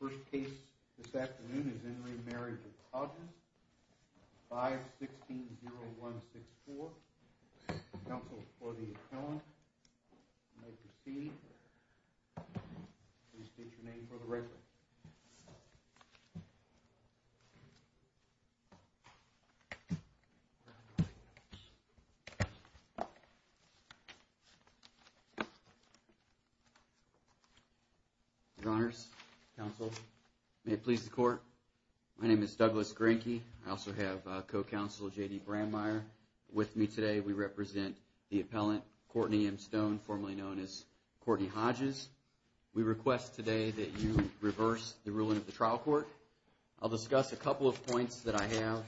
The first case this afternoon is Henry Mary Dukadjian, 516-0164, counsel for the appellant. You may proceed. Please state your name for the record. Your Honors, counsel, may it please the court, my name is Douglas Grinke. I also have co-counsel J.D. Brandmeier with me today. We represent the appellant, Courtney M. Stone, formerly known as Courtney Hodges. We request today that you reverse the ruling of the trial court. I'll discuss a couple of points that I have,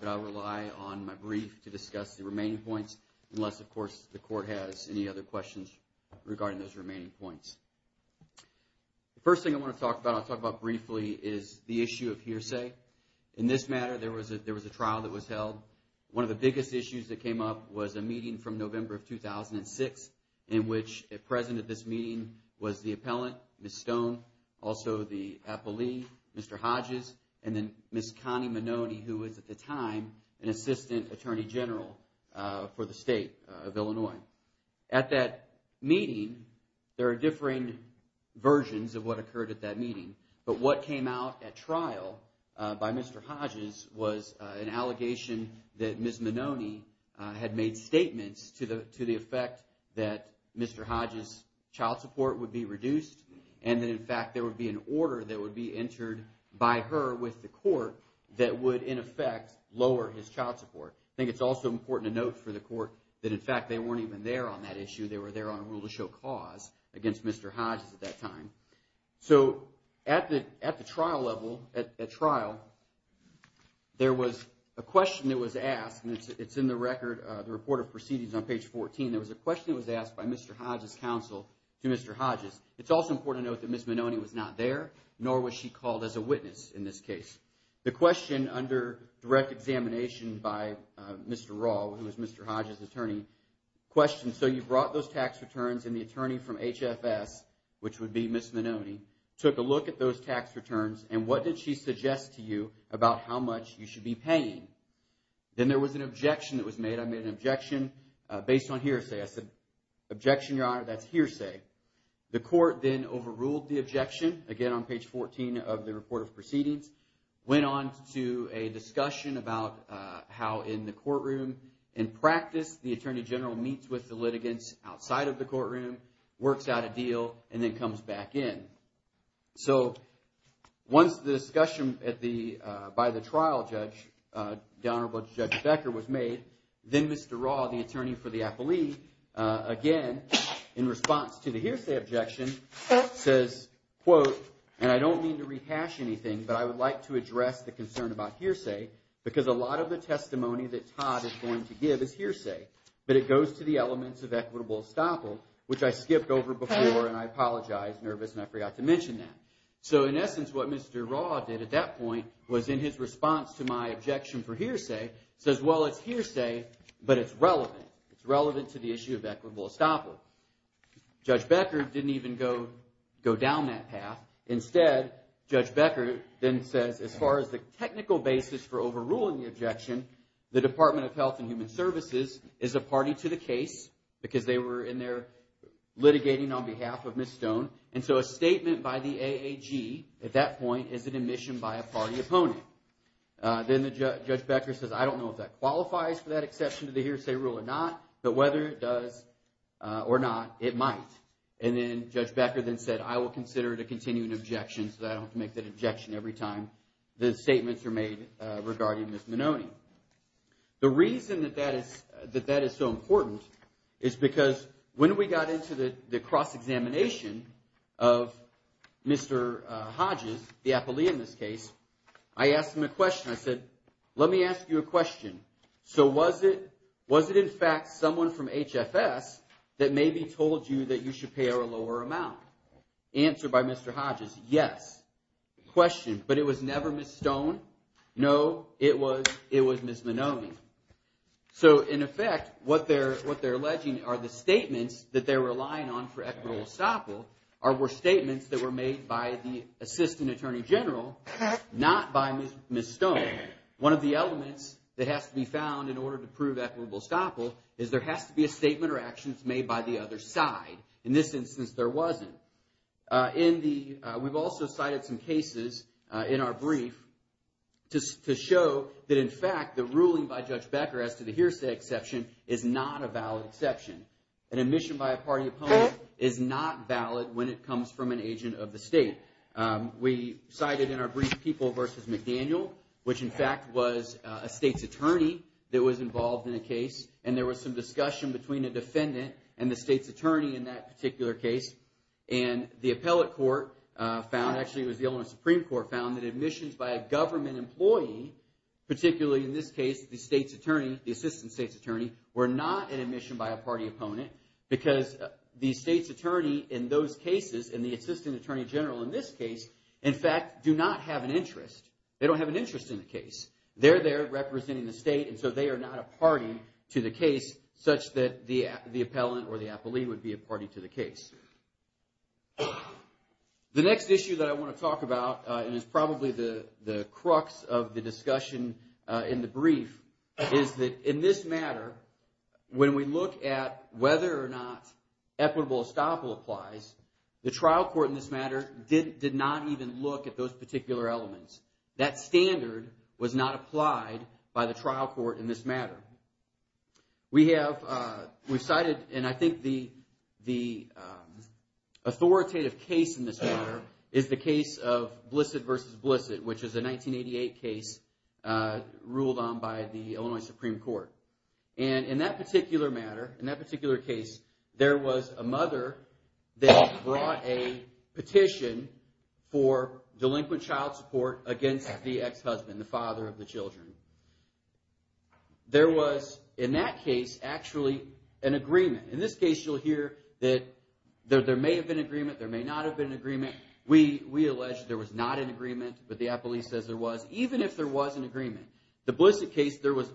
but I rely on my brief to discuss the remaining points, unless, of course, the court has any other questions regarding those remaining points. The first thing I want to talk about, I'll talk about briefly, is the issue of hearsay. In this matter, there was a trial that was held. One of the biggest issues that came up was a meeting from November of 2006, in which present at this meeting was the appellant, Ms. Stone, also the appellee, Mr. Hodges, and then Ms. Connie Minoni, who was at the time an assistant attorney general for the state of Illinois. At that meeting, there are differing versions of what occurred at that meeting, but what came out at trial by Mr. Hodges was an allegation that Ms. Minoni had made statements to the effect that Mr. Hodges' child support would be reduced, and that, in fact, there would be an order that would be entered by her with the court that would, in effect, lower his child support. I think it's also important to note for the court that, in fact, they weren't even there on that issue. They were there on a rule to show cause against Mr. Hodges at that time. So at the trial level, at trial, there was a question that was asked, and it's in the record, the report of proceedings on page 14. There was a question that was asked by Mr. Hodges' counsel to Mr. Hodges. It's also important to note that Ms. Minoni was not there, nor was she called as a witness in this case. The question under direct examination by Mr. Raul, who was Mr. Hodges' attorney, so you brought those tax returns, and the attorney from HFS, which would be Ms. Minoni, took a look at those tax returns, and what did she suggest to you about how much you should be paying? Then there was an objection that was made. I made an objection based on hearsay. I said, objection, Your Honor, that's hearsay. The court then overruled the objection, again on page 14 of the report of proceedings, went on to a discussion about how in the courtroom, in practice, the attorney general meets with the litigants outside of the courtroom, works out a deal, and then comes back in. So once the discussion by the trial judge, Downer v. Judge Becker, was made, then Mr. Raul, the attorney for the appellee, again, in response to the hearsay objection, says, quote, and I don't mean to rehash anything, but I would like to address the concern about hearsay, because a lot of the testimony that Todd is going to give is hearsay, but it goes to the elements of equitable estoppel, which I skipped over before, and I apologize, nervous, and I forgot to mention that. So in essence, what Mr. Raul did at that point was, in his response to my objection for hearsay, says, well, it's hearsay, but it's relevant. It's relevant to the issue of equitable estoppel. Judge Becker didn't even go down that path. Instead, Judge Becker then says, as far as the technical basis for overruling the objection, the Department of Health and Human Services is a party to the case, because they were in there litigating on behalf of Ms. Stone, and so a statement by the AAG at that point is an admission by a party opponent. Then Judge Becker says, I don't know if that qualifies for that exception to the hearsay rule or not, but whether it does or not, it might. And then Judge Becker then said, I will consider it a continuing objection, so that I don't have to make that objection every time the statements are made regarding Ms. Minoni. The reason that that is so important is because when we got into the cross-examination of Mr. Hodges, the appellee in this case, I asked him a question. I said, let me ask you a question. So was it, in fact, someone from HFS that maybe told you that you should pay her a lower amount? Answer by Mr. Hodges, yes. Question, but it was never Ms. Stone? No, it was Ms. Minoni. So, in effect, what they're alleging are the statements that they're relying on for equitable estoppel were statements that were made by the Assistant Attorney General, not by Ms. Stone. One of the elements that has to be found in order to prove equitable estoppel is there has to be a statement or actions made by the other side. In this instance, there wasn't. We've also cited some cases in our brief to show that, in fact, the ruling by Judge Becker as to the hearsay exception is not a valid exception. An admission by a party opponent is not valid when it comes from an agent of the state. We cited in our brief People v. McDaniel, which, in fact, was a state's attorney that was involved in a case, and there was some discussion between a defendant and the state's attorney in that particular case. And the Appellate Court found, actually it was the Elementary Supreme Court found, that admissions by a government employee, particularly in this case the state's attorney, the Assistant State's Attorney, were not an admission by a party opponent because the state's attorney in those cases, and the Assistant Attorney General in this case, in fact, do not have an interest. They don't have an interest in the case. They're there representing the state, and so they are not a party to the case, such that the appellant or the appellee would be a party to the case. The next issue that I want to talk about, and it's probably the crux of the discussion in the brief, is that in this matter, when we look at whether or not equitable estoppel applies, the trial court in this matter did not even look at those particular elements. That standard was not applied by the trial court in this matter. We have cited, and I think the authoritative case in this matter is the case of Blissett v. Blissett, which is a 1988 case ruled on by the Illinois Supreme Court. In that particular matter, in that particular case, there was a mother that brought a petition for delinquent child support against the ex-husband, the father of the children. There was, in that case, actually an agreement. In this case, you'll hear that there may have been agreement, there may not have been agreement. We allege there was not an agreement, but the appellee says there was, even if there was an agreement. The Blissett case, there was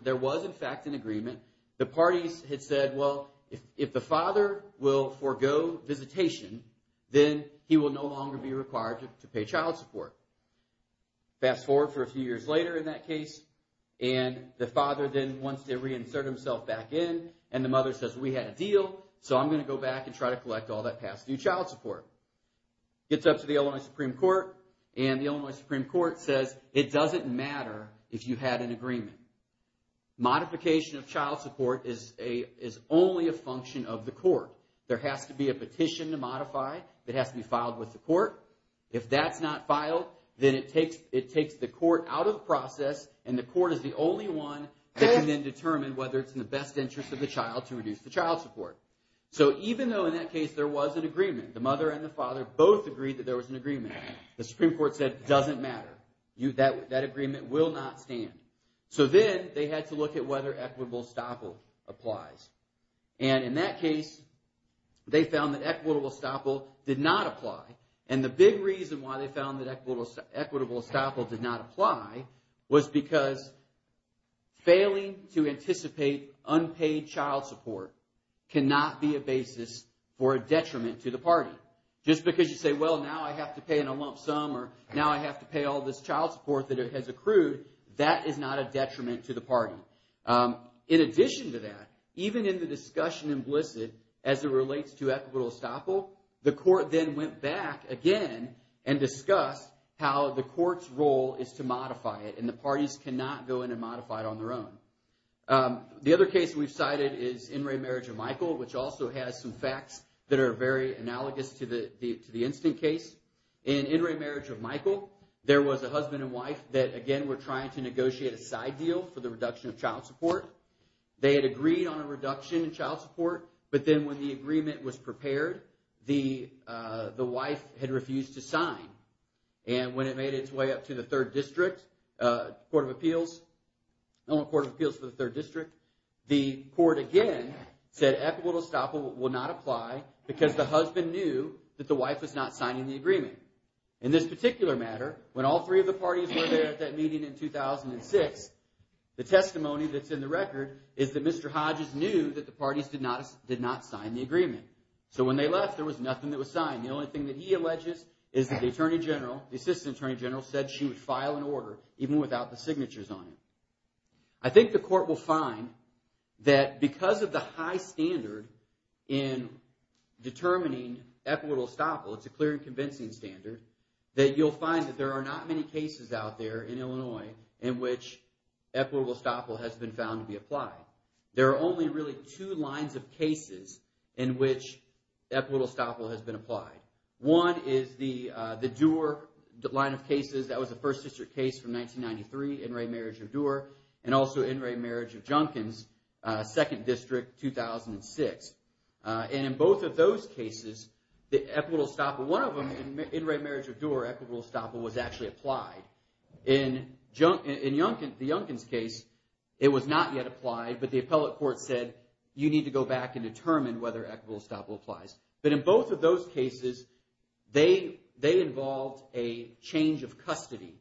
in fact an agreement. The parties had said, well, if the father will forego visitation, then he will no longer be required to pay child support. Fast forward for a few years later in that case, and the father then wants to reinsert himself back in, and the mother says, we had a deal, so I'm going to go back and try to collect all that past due child support. Gets up to the Illinois Supreme Court, and the Illinois Supreme Court says, it doesn't matter if you had an agreement. Modification of child support is only a function of the court. There has to be a petition to modify that has to be filed with the court. If that's not filed, then it takes the court out of the process, and the court is the only one that can then determine whether it's in the best interest of the child to reduce the child support. So even though in that case there was an agreement, the mother and the father both agreed that there was an agreement, the Supreme Court said, it doesn't matter. That agreement will not stand. So then they had to look at whether equitable estoppel applies, and in that case, they found that equitable estoppel did not apply, and the big reason why they found that equitable estoppel did not apply was because failing to anticipate unpaid child support cannot be a basis for a detriment to the party. Just because you say, well, now I have to pay in a lump sum, or now I have to pay all this child support that it has accrued, that is not a detriment to the party. In addition to that, even in the discussion in Blissett as it relates to equitable estoppel, the court then went back again and discussed how the court's role is to modify it, and the parties cannot go in and modify it on their own. The other case we've cited is In Re Marriage of Michael, which also has some facts that are very analogous to the instant case. In In Re Marriage of Michael, there was a husband and wife that, again, were trying to negotiate a side deal for the reduction of child support. They had agreed on a reduction in child support, but then when the agreement was prepared, the wife had refused to sign. When it made its way up to the Third District Court of Appeals, the only court of appeals for the Third District, the court again said equitable estoppel will not apply because the husband knew that the wife was not signing the agreement. In this particular matter, when all three of the parties were there at that meeting in 2006, the testimony that's in the record is that Mr. Hodges knew that the parties did not sign the agreement. When they left, there was nothing that was signed. The only thing that he alleges is that the assistant attorney general said she would file an order even without the signatures on it. I think the court will find that because of the high standard in determining equitable estoppel, it's a clear and convincing standard, that you'll find that there are not many cases out there in Illinois in which equitable estoppel has been found to be applied. There are only really two lines of cases in which equitable estoppel has been applied. One is the Duer line of cases. That was a First District case from 1993, In re Marriage of Duer, and also In re Marriage of Junkins, Second District, 2006. In both of those cases, one of them, In re Marriage of Duer, equitable estoppel was actually applied. In the Junkins case, it was not yet applied, but the appellate court said, you need to go back and determine whether equitable estoppel applies. In both of those cases, they involved a change of custody.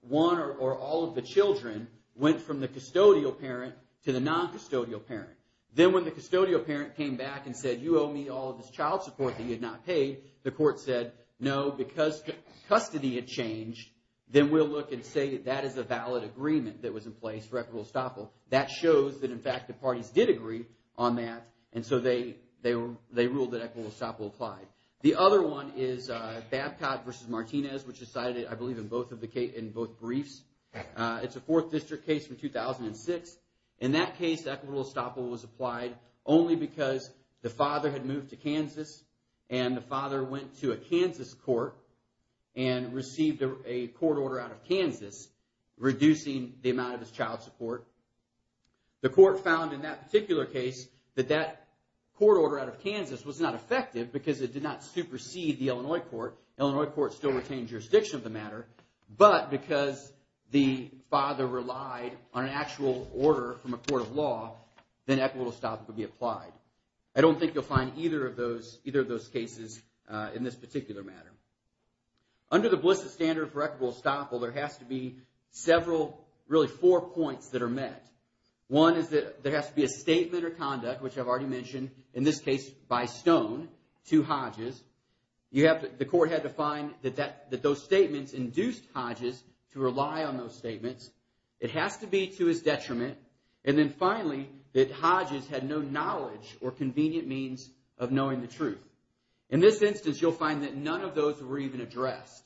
One or all of the children went from the custodial parent to the non-custodial parent. Then when the custodial parent came back and said, you owe me all of this child support that you had not paid, the court said, no, because custody had changed, then we'll look and say that is a valid agreement that was in place for equitable estoppel. That shows that, in fact, the parties did agree on that, and so they ruled that equitable estoppel applied. The other one is Babcock v. Martinez, which is cited, I believe, in both briefs. It's a Fourth District case from 2006. In that case, equitable estoppel was applied only because the father had moved to Kansas, and the father went to a Kansas court and received a court order out of Kansas, reducing the amount of his child support. The court found in that particular case that that court order out of Kansas was not effective because it did not supersede the Illinois court. Illinois court still retained jurisdiction of the matter, but because the father relied on an actual order from a court of law, then equitable estoppel would be applied. I don't think you'll find either of those cases in this particular matter. Under the Blissett Standard for equitable estoppel, there has to be several, really four points that are met. One is that there has to be a statement of conduct, which I've already mentioned, in this case by Stone to Hodges. The court had to find that those statements induced Hodges to rely on those statements. It has to be to his detriment. Then finally, that Hodges had no knowledge or convenient means of knowing the truth. In this instance, you'll find that none of those were even addressed.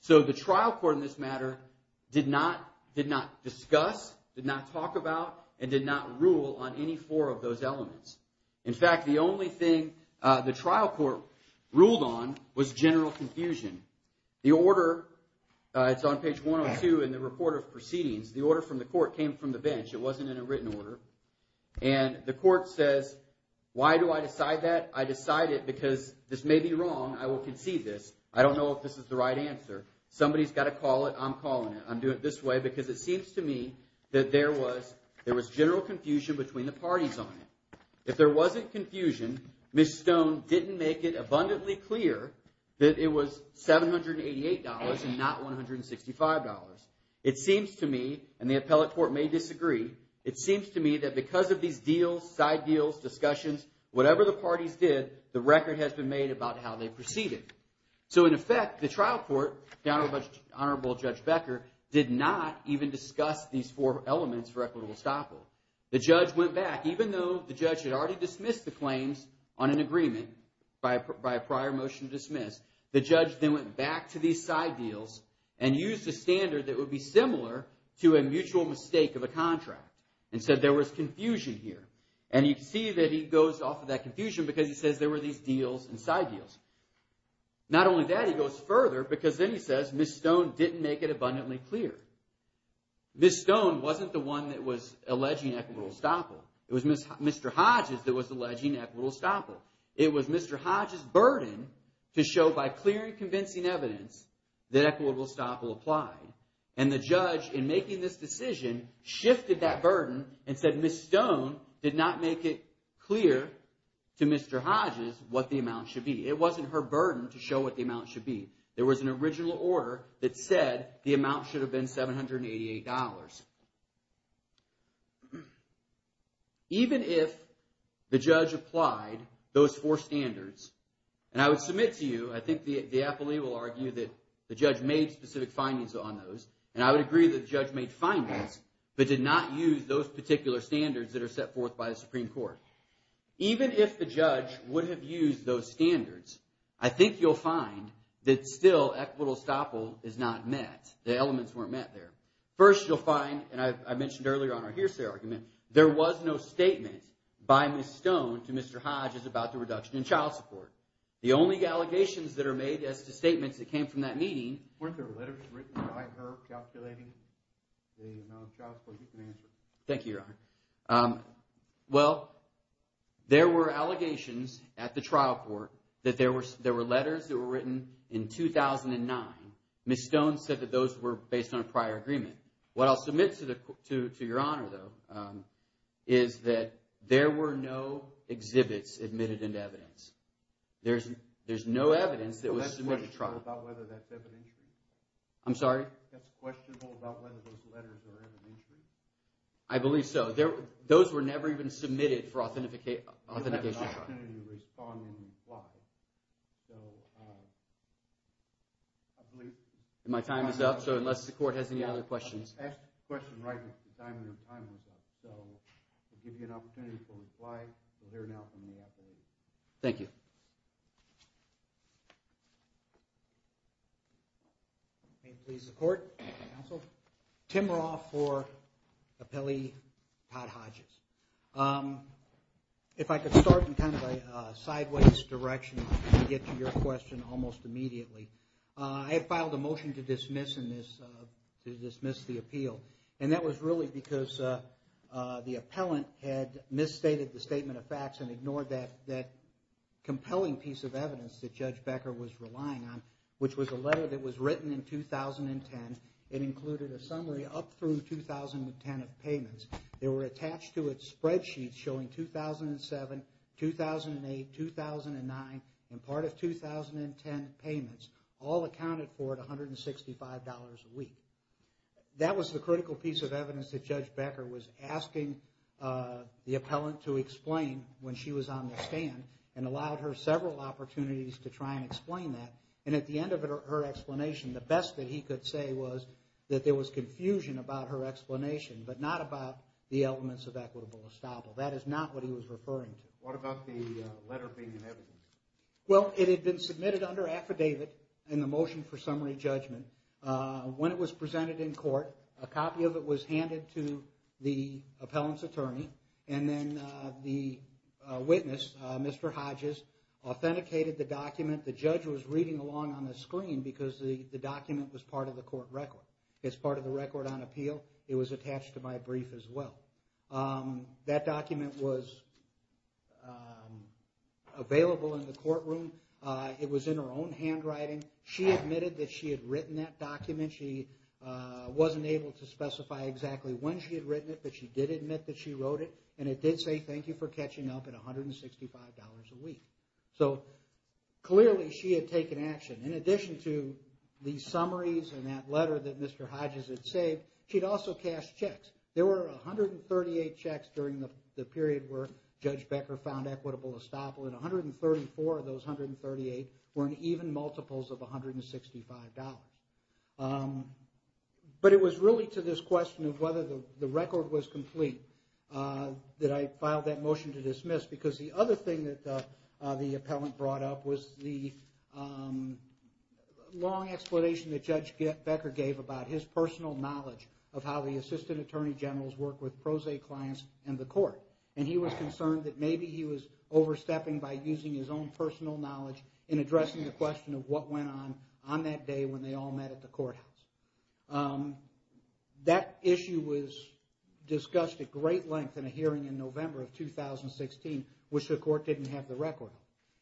So the trial court in this matter did not discuss, did not talk about, and did not rule on any four of those elements. In fact, the only thing the trial court ruled on was general confusion. The order, it's on page 102 in the report of proceedings, the order from the court came from the bench. It wasn't in a written order. The court says, why do I decide that? I decide it because this may be wrong. I will concede this. I don't know if this is the right answer. Somebody's got to call it. I'm calling it. I'm doing it this way because it seems to me that there was general confusion between the parties on it. If there wasn't confusion, Ms. Stone didn't make it abundantly clear that it was $788 and not $165. It seems to me, and the appellate court may disagree, it seems to me that because of these deals, side deals, discussions, whatever the parties did, the record has been made about how they proceeded. So in effect, the trial court, the Honorable Judge Becker, did not even discuss these four elements for equitable estoppel. The judge went back. Even though the judge had already dismissed the claims on an agreement by a prior motion to dismiss, the judge then went back to these side deals and used a standard that would be similar to a mutual mistake of a contract and said there was confusion here. And you can see that he goes off of that confusion because he says there were these deals and side deals. Not only that, he goes further because then he says Ms. Stone didn't make it abundantly clear. Ms. Stone wasn't the one that was alleging equitable estoppel. It was Mr. Hodges that was alleging equitable estoppel. It was Mr. Hodges' burden to show by clear and convincing evidence that equitable estoppel applied. And the judge, in making this decision, shifted that burden and said Ms. Stone did not make it clear to Mr. Hodges what the amount should be. It wasn't her burden to show what the amount should be. There was an original order that said the amount should have been $788. Even if the judge applied those four standards, and I would submit to you, I think the appellee will argue that the judge made specific findings on those. And I would agree that the judge made findings but did not use those particular standards that are set forth by the Supreme Court. Even if the judge would have used those standards, I think you'll find that still equitable estoppel is not met. The elements weren't met there. First, you'll find, and I mentioned earlier on our hearsay argument, there was no statement by Ms. Stone to Mr. Hodges about the reduction in child support. The only allegations that are made as to statements that came from that meeting… Weren't there letters written by her calculating the amount of child support? You can answer. Thank you, Your Honor. Well, there were allegations at the trial court that there were letters that were written in 2009. Ms. Stone said that those were based on a prior agreement. What I'll submit to Your Honor, though, is that there were no exhibits admitted into evidence. There's no evidence that was submitted to trial. That's questionable about whether that's evidentiary. I'm sorry? That's questionable about whether those letters are evidentiary. I believe so. Those were never even submitted for authentication trial. I'll give you an opportunity to respond and reply. So, I believe… My time is up, so unless the court has any other questions… I asked the question right at the time when your time was up. So, I'll give you an opportunity to reply. We'll hear now from the appellate. Thank you. May it please the court, counsel. Tim Roth for appellee Todd Hodges. If I could start in kind of a sideways direction and get to your question almost immediately. I had filed a motion to dismiss the appeal. And that was really because the appellant had misstated the statement of facts and ignored that compelling piece of evidence that Judge Becker was relying on, which was a letter that was written in 2010. It included a summary up through 2010 of payments. There were attached to it spreadsheets showing 2007, 2008, 2009, and part of 2010 payments. All accounted for at $165 a week. That was the critical piece of evidence that Judge Becker was asking the appellant to explain when she was on the stand and allowed her several opportunities to try and explain that. And at the end of her explanation, the best that he could say was that there was confusion about her explanation, but not about the elements of equitable estoppel. That is not what he was referring to. What about the letter being an evidence? Well, it had been submitted under affidavit in the motion for summary judgment. When it was presented in court, a copy of it was handed to the appellant's attorney, and then the witness, Mr. Hodges, authenticated the document. The judge was reading along on the screen because the document was part of the court record. It's part of the record on appeal. It was attached to my brief as well. That document was available in the courtroom. It was in her own handwriting. She admitted that she had written that document. She wasn't able to specify exactly when she had written it, but she did admit that she wrote it, and it did say, thank you for catching up at $165 a week. So clearly she had taken action. In addition to the summaries and that letter that Mr. Hodges had saved, she'd also cashed checks. There were 138 checks during the period where Judge Becker found equitable estoppel, and 134 of those 138 were in even multiples of $165. But it was really to this question of whether the record was complete that I filed that motion to dismiss because the other thing that the appellant brought up was the long explanation that Judge Becker gave about his personal knowledge of how the assistant attorney generals work with pro se clients in the court. He was concerned that maybe he was overstepping by using his own personal knowledge in addressing the question of what went on on that day when they all met at the courthouse. That issue was discussed at great length in a hearing in November of 2016, which the court didn't have the record on.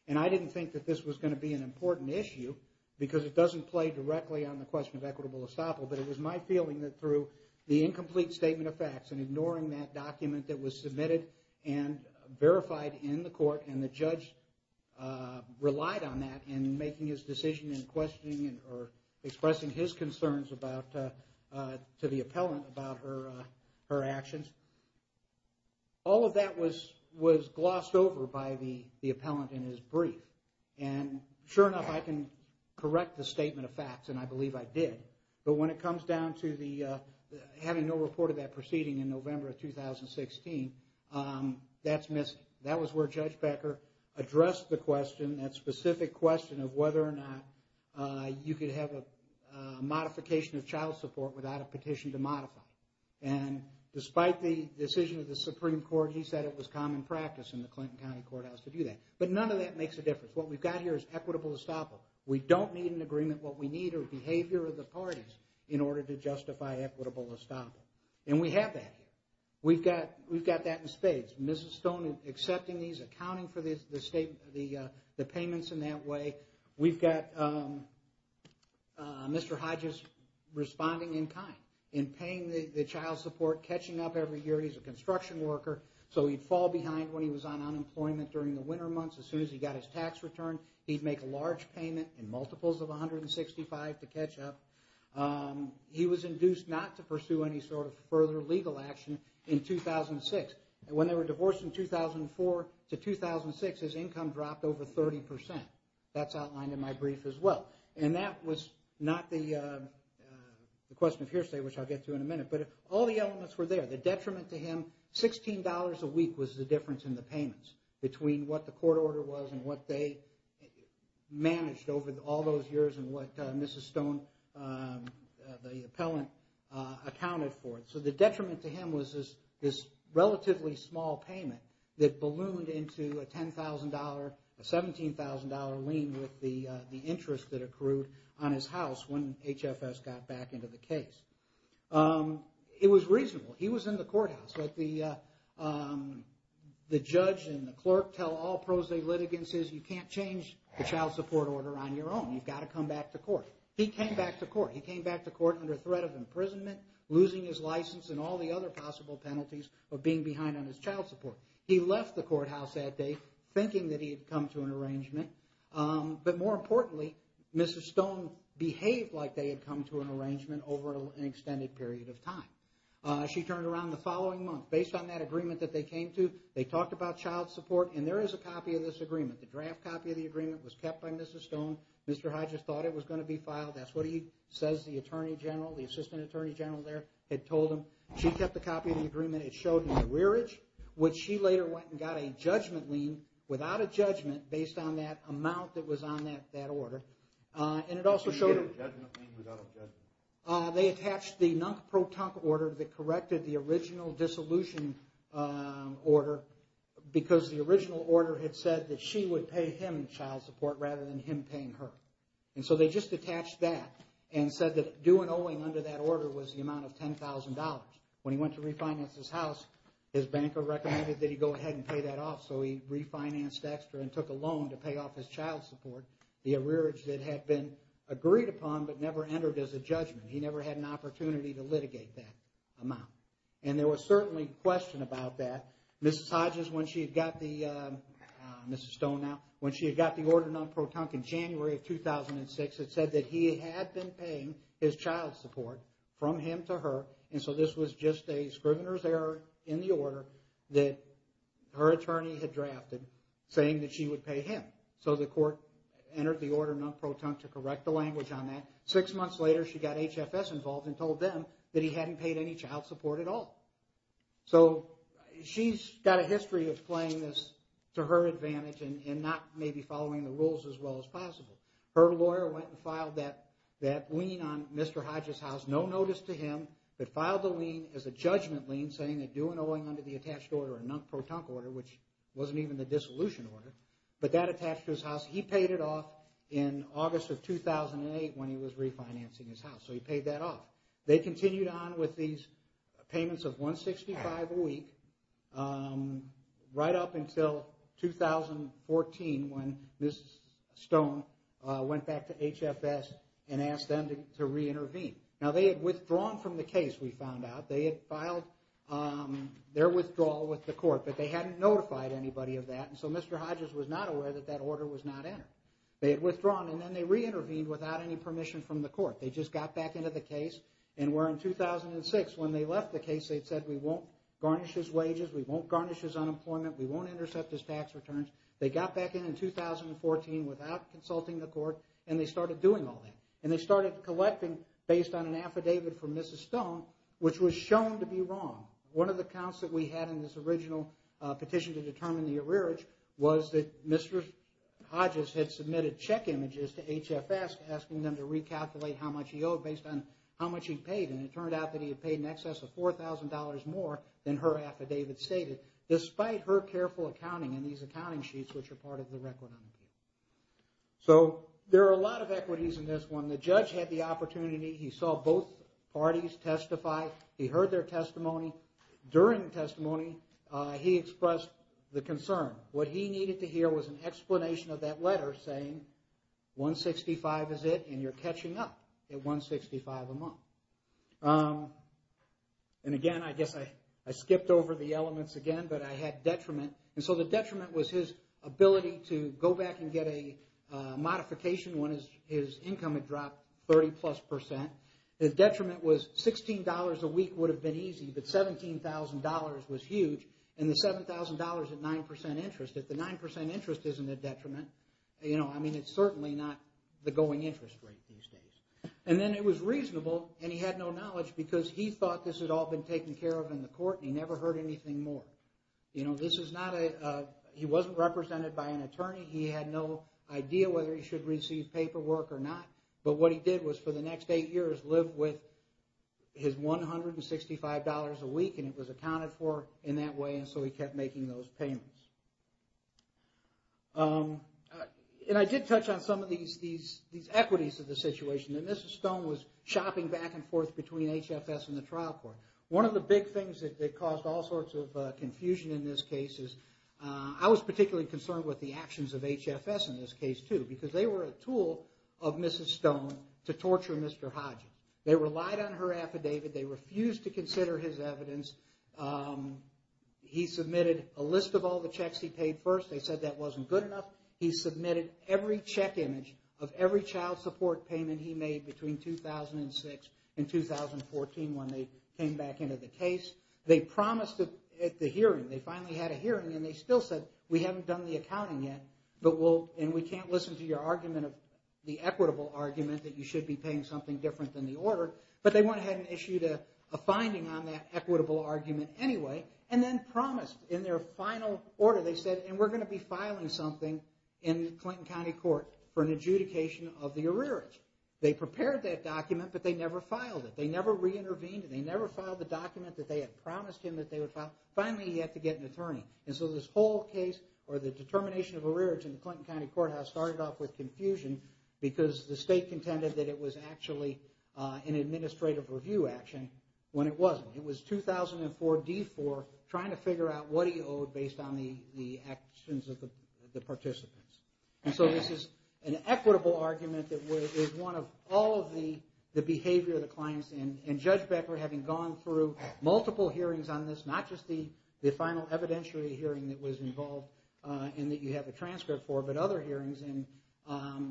And I didn't think that this was going to be an important issue because it doesn't play directly on the question of equitable estoppel, but it was my feeling that through the incomplete statement of facts and ignoring that document that was submitted and verified in the court, and the judge relied on that in making his decision and questioning or expressing his concerns to the appellant about her actions, all of that was glossed over by the appellant in his brief. And sure enough, I can correct the statement of facts, and I believe I did. But when it comes down to having no report of that proceeding in November of 2016, that's missing. That was where Judge Becker addressed the question, that specific question of whether or not you could have a modification of child support without a petition to modify. And despite the decision of the Supreme Court, he said it was common practice in the Clinton County Courthouse to do that. But none of that makes a difference. What we've got here is equitable estoppel. We don't need an agreement. What we need are behavior of the parties in order to justify equitable estoppel. And we have that here. We've got that in spades. Mrs. Stone is accepting these, accounting for the payments in that way. We've got Mr. Hodges responding in kind, in paying the child support, catching up every year. He's a construction worker, so he'd fall behind when he was on unemployment during the winter months. As soon as he got his tax return, he'd make a large payment in multiples of $165 to catch up. He was induced not to pursue any sort of further legal action in 2006. When they were divorced in 2004 to 2006, his income dropped over 30%. That's outlined in my brief as well. And that was not the question of hearsay, which I'll get to in a minute, but all the elements were there. The detriment to him, $16 a week was the difference in the payments between what the court order was and what they managed over all those years and what Mrs. Stone, the appellant, accounted for. So the detriment to him was this relatively small payment that ballooned into a $10,000, a $17,000 lien with the interest that accrued on his house when HFS got back into the case. It was reasonable. He was in the courthouse. The judge and the clerk tell all pro se litigants, you can't change the child support order on your own. You've got to come back to court. He came back to court. Under threat of imprisonment, losing his license, and all the other possible penalties of being behind on his child support. He left the courthouse that day thinking that he had come to an arrangement. But more importantly, Mrs. Stone behaved like they had come to an arrangement over an extended period of time. She turned around the following month. Based on that agreement that they came to, they talked about child support, and there is a copy of this agreement. The draft copy of the agreement was kept by Mrs. Stone. Mr. Hodges thought it was going to be filed. That's what he says the Attorney General, the Assistant Attorney General there, had told him. She kept the copy of the agreement. It showed in the rearage, which she later went and got a judgment lien without a judgment based on that amount that was on that order. And it also showed a judgment lien without a judgment. They attached the non-pro-tump order that corrected the original dissolution order because the original order had said that she would pay him child support rather than him paying her. And so they just attached that and said that due and owing under that order was the amount of $10,000. When he went to refinance his house, his banker recommended that he go ahead and pay that off, so he refinanced extra and took a loan to pay off his child support, the arrearage that had been agreed upon but never entered as a judgment. He never had an opportunity to litigate that amount. And there was certainly question about that. Mrs. Hodges, when she had got the order non-pro-tump in January of 2006, it said that he had been paying his child support from him to her, and so this was just a scrivener's error in the order that her attorney had drafted saying that she would pay him. So the court entered the order non-pro-tump to correct the language on that. Six months later, she got HFS involved and told them that he hadn't paid any child support at all. So she's got a history of playing this to her advantage and not maybe following the rules as well as possible. Her lawyer went and filed that lien on Mr. Hodges' house, no notice to him, but filed the lien as a judgment lien saying that due and owing under the attached order or non-pro-tump order, which wasn't even the dissolution order, but that attached to his house, he paid it off in August of 2008 when he was refinancing his house, so he paid that off. They continued on with these payments of $165 a week right up until 2014 when Ms. Stone went back to HFS and asked them to re-intervene. Now they had withdrawn from the case, we found out. They had filed their withdrawal with the court, but they hadn't notified anybody of that, and so Mr. Hodges was not aware that that order was not entered. They had withdrawn, and then they re-intervened without any permission from the court. They just got back into the case, and where in 2006 when they left the case, they'd said, we won't garnish his wages, we won't garnish his unemployment, we won't intercept his tax returns. They got back in in 2014 without consulting the court, and they started doing all that. And they started collecting based on an affidavit from Ms. Stone, which was shown to be wrong. One of the counts that we had in this original petition to determine the arrearage was that Mr. Hodges had submitted check images to HFS asking them to recalculate how much he owed based on how much he paid, and it turned out that he had paid in excess of $4,000 more than her affidavit stated, despite her careful accounting in these accounting sheets, which are part of the record on the case. So there are a lot of equities in this one. The judge had the opportunity. He saw both parties testify. He heard their testimony. During the testimony, he expressed the concern. What he needed to hear was an explanation of that letter saying, $165,000 is it, and you're catching up at $165,000 a month. And again, I guess I skipped over the elements again, but I had detriment. And so the detriment was his ability to go back and get a modification when his income had dropped 30-plus percent. The detriment was $16 a week would have been easy, but $17,000 was huge. And the $7,000 at 9% interest, if the 9% interest isn't a detriment, I mean, it's certainly not the going interest rate these days. And then it was reasonable, and he had no knowledge, because he thought this had all been taken care of in the court, and he never heard anything more. He wasn't represented by an attorney. He had no idea whether he should receive paperwork or not. But what he did was, for the next eight years, live with his $165 a week, and it was accounted for in that way, and so he kept making those payments. And I did touch on some of these equities of the situation. And Mrs. Stone was shopping back and forth between HFS and the trial court. One of the big things that caused all sorts of confusion in this case is I was particularly concerned with the actions of HFS in this case too, because they were a tool of Mrs. Stone to torture Mr. Hodge. They relied on her affidavit. They refused to consider his evidence. He submitted a list of all the checks he paid first. They said that wasn't good enough. He submitted every check image of every child support payment he made between 2006 and 2014 when they came back into the case. They promised at the hearing, they finally had a hearing, and they still said, we haven't done the accounting yet, and we can't listen to your argument of the equitable argument that you should be paying something different than the order. But they went ahead and issued a finding on that equitable argument anyway, and then promised in their final order, they said, and we're going to be filing something in Clinton County Court for an adjudication of the arrearage. They prepared that document, but they never filed it. They never reintervened, and they never filed the document that they had promised him that they would file. Finally, he had to get an attorney. And so this whole case, or the determination of arrearage in the Clinton County Courthouse started off with confusion because the state contended that it was actually an administrative review action when it wasn't. It was 2004 D4 trying to figure out what he owed based on the actions of the participants. And so this is an equitable argument that is one of all of the behavior of the clients, and Judge Becker, having gone through multiple hearings on this, not just the final evidentiary hearing that was involved and that you have a transcript for, but other hearings, and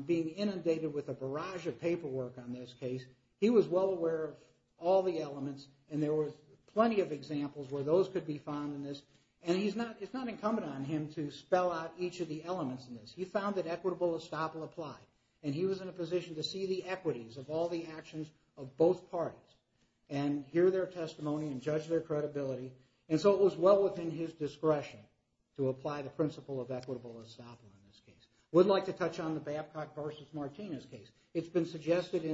being inundated with a barrage of paperwork on this case, he was well aware of all the elements, and there were plenty of examples where those could be found in this. And it's not incumbent on him to spell out each of the elements in this. He found that equitable estoppel applied, and he was in a position to see the equities of all the actions of both parties and hear their testimony and judge their credibility. And so it was well within his discretion to apply the principle of equitable estoppel in this case. I would like to touch on the Babcock v. Martinez case. It's been suggested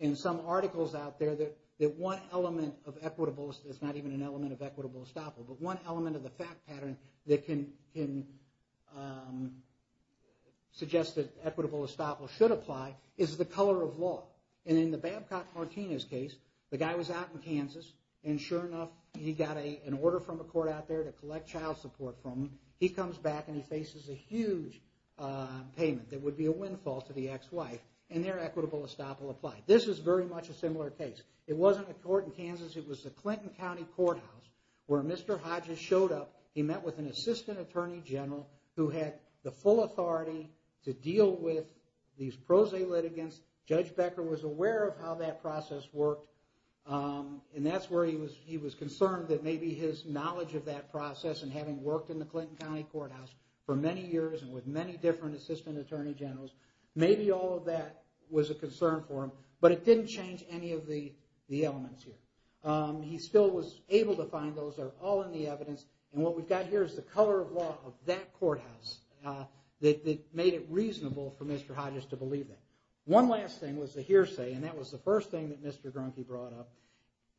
in some articles out there that one element of equitable, it's not even an element of equitable estoppel, but one element of the fact pattern that can suggest that equitable estoppel should apply is the color of law. And in the Babcock v. Martinez case, the guy was out in Kansas, and sure enough, he got an order from a court out there to collect child support from him. He comes back and he faces a huge payment that would be a windfall to the ex-wife, and there equitable estoppel applied. This is very much a similar case. It wasn't a court in Kansas. It was the Clinton County Courthouse where Mr. Hodges showed up. He met with an assistant attorney general who had the full authority to deal with these pro se litigants. Judge Becker was aware of how that process worked, and that's where he was concerned that maybe his knowledge of that process and having worked in the Clinton County Courthouse for many years and with many different assistant attorney generals, maybe all of that was a concern for him. But it didn't change any of the elements here. He still was able to find those. They're all in the evidence. And what we've got here is the color of law of that courthouse that made it reasonable for Mr. Hodges to believe that. One last thing was the hearsay, and that was the first thing that Mr. Groenke brought up.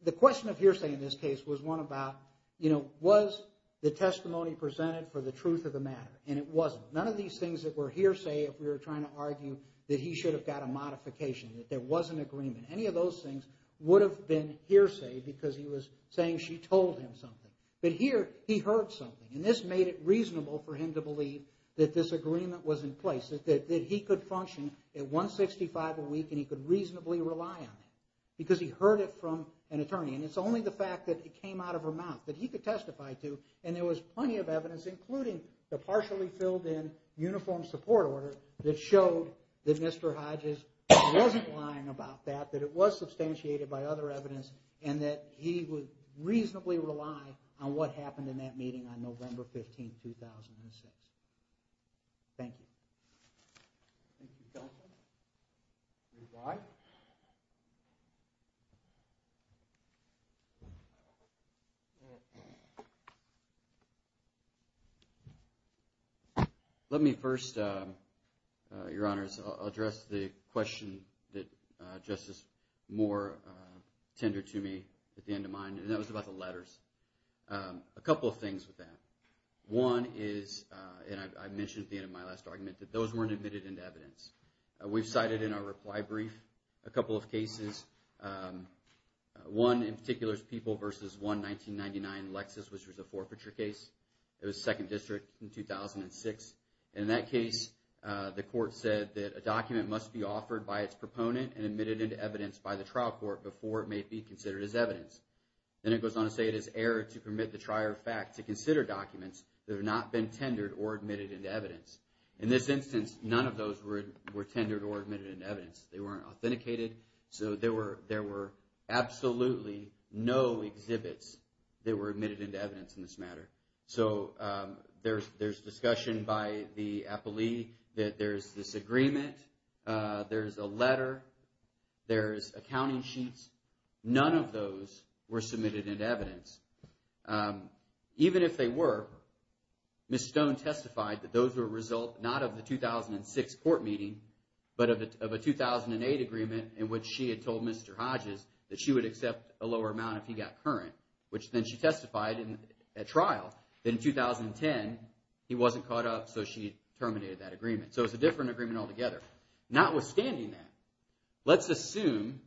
The question of hearsay in this case was one about, you know, was the testimony presented for the truth of the matter, and it wasn't. None of these things that were hearsay if we were trying to argue that he should have got a modification, that there was an agreement, any of those things would have been hearsay because he was saying she told him something. But here he heard something, and this made it reasonable for him to believe that this agreement was in place, that he could function at $165 a week and he could reasonably rely on it because he heard it from an attorney. And it's only the fact that it came out of her mouth that he could testify to, and there was plenty of evidence, including the partially filled in uniform support order, that showed that Mr. Hodges wasn't lying about that, that it was substantiated by other evidence, and that he would reasonably rely on what happened in that meeting on November 15, 2006. Thank you. Thank you, gentlemen. Mr. Weiss? Let me first, Your Honors, address the question that Justice Moore tendered to me at the end of mine, and that was about the letters. A couple of things with that. One is, and I mentioned at the end of my last argument, that those weren't admitted into evidence. We've cited in our reply brief a couple of cases. One in particular is People v. 1-1999 in Lexis, which was a forfeiture case. It was 2nd District in 2006. In that case, the court said that a document must be offered by its proponent and admitted into evidence by the trial court before it may be considered as evidence. Then it goes on to say it is error to permit the trier of fact to consider documents that have not been tendered or admitted into evidence. In this instance, none of those were tendered or admitted into evidence. They weren't authenticated. So there were absolutely no exhibits that were admitted into evidence in this matter. So there's discussion by the appellee that there's this agreement, there's a letter, there's accounting sheets. None of those were submitted into evidence. Even if they were, Ms. Stone testified that those were a result not of the 2006 court meeting, but of a 2008 agreement in which she had told Mr. Hodges that she would accept a lower amount if he got current, which then she testified at trial. Then in 2010, he wasn't caught up, so she terminated that agreement. So it's a different agreement altogether. Notwithstanding that, let's assume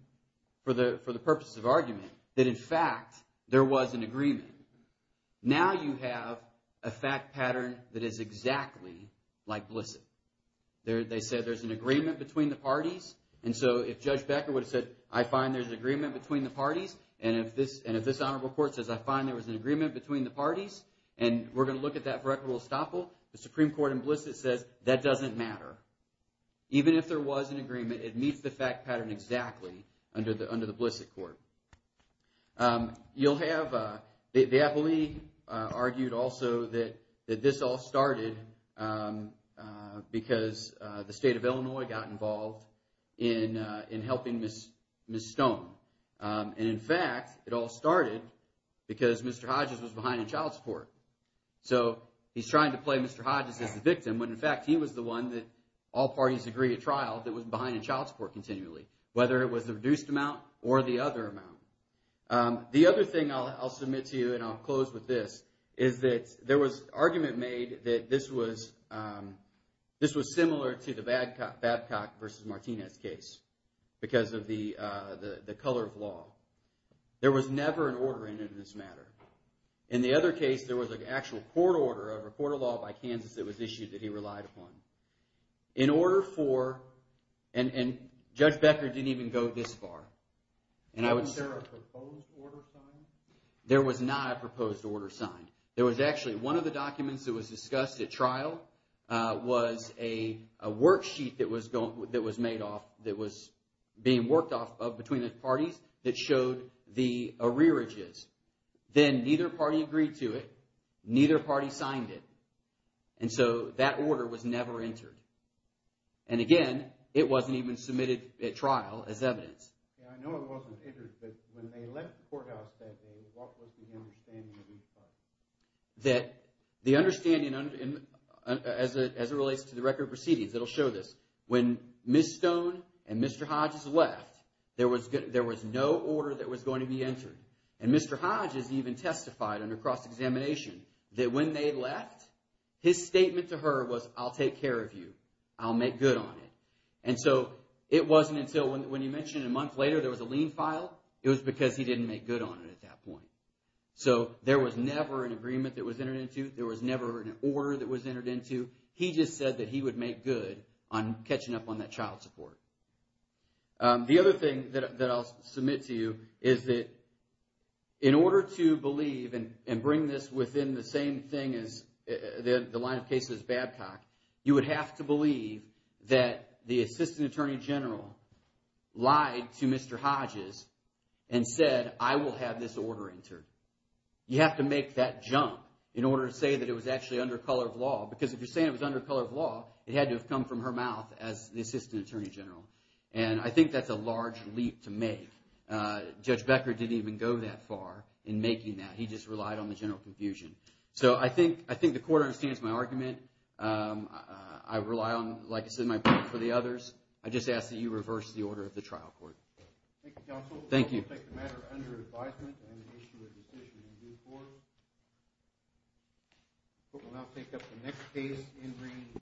for the purposes of argument that, in fact, there was an agreement. Now you have a fact pattern that is exactly like Blissett. They said there's an agreement between the parties. And so if Judge Becker would have said, I find there's an agreement between the parties, and if this honorable court says, I find there was an agreement between the parties, and we're going to look at that for equitable estoppel, the Supreme Court in Blissett says that doesn't matter. Even if there was an agreement, it meets the fact pattern exactly under the Blissett court. You'll have, the appellee argued also that this all started because the state of Illinois got involved in helping Ms. Stone. And, in fact, it all started because Mr. Hodges was behind in child support. So he's trying to play Mr. Hodges as the victim, when, in fact, he was the one that all parties agree at trial that was behind in child support continually, whether it was the reduced amount or the other amount. The other thing I'll submit to you, and I'll close with this, is that there was argument made that this was similar to the Babcock versus Martinez case because of the color of law. There was never an order in this matter. In the other case, there was an actual court order, a report of law by Kansas that was issued that he relied upon. In order for, and Judge Becker didn't even go this far. Was there a proposed order signed? There was not a proposed order signed. There was actually, one of the documents that was discussed at trial was a worksheet that was being worked off of between the parties that showed the arrearages. Then neither party agreed to it. Neither party signed it. So that order was never entered. Again, it wasn't even submitted at trial as evidence. I know it wasn't entered, but when they left the courthouse that day, what was the understanding of each party? The understanding, as it relates to the record of proceedings, it'll show this. When Ms. Stone and Mr. Hodges left, there was no order that was going to be entered. Mr. Hodges even testified under cross-examination that when they left, his statement to her was, I'll take care of you. I'll make good on it. It wasn't until, when you mentioned a month later, there was a lien filed. It was because he didn't make good on it at that point. There was never an agreement that was entered into. There was never an order that was entered into. He just said that he would make good on catching up on that child support. The other thing that I'll submit to you is that in order to believe and bring this within the same thing as the line of cases Babcock, you would have to believe that the Assistant Attorney General lied to Mr. Hodges and said, I will have this order entered. You have to make that jump in order to say that it was actually under color of law, it had to have come from her mouth as the Assistant Attorney General. And I think that's a large leap to make. Judge Becker didn't even go that far in making that. He just relied on the general confusion. So I think the court understands my argument. I rely on, like I said, my point for the others. I just ask that you reverse the order of the trial court. Thank you, counsel. Thank you. We'll take the matter under advisement and issue a decision in due course. I hope we all take up the next case in green.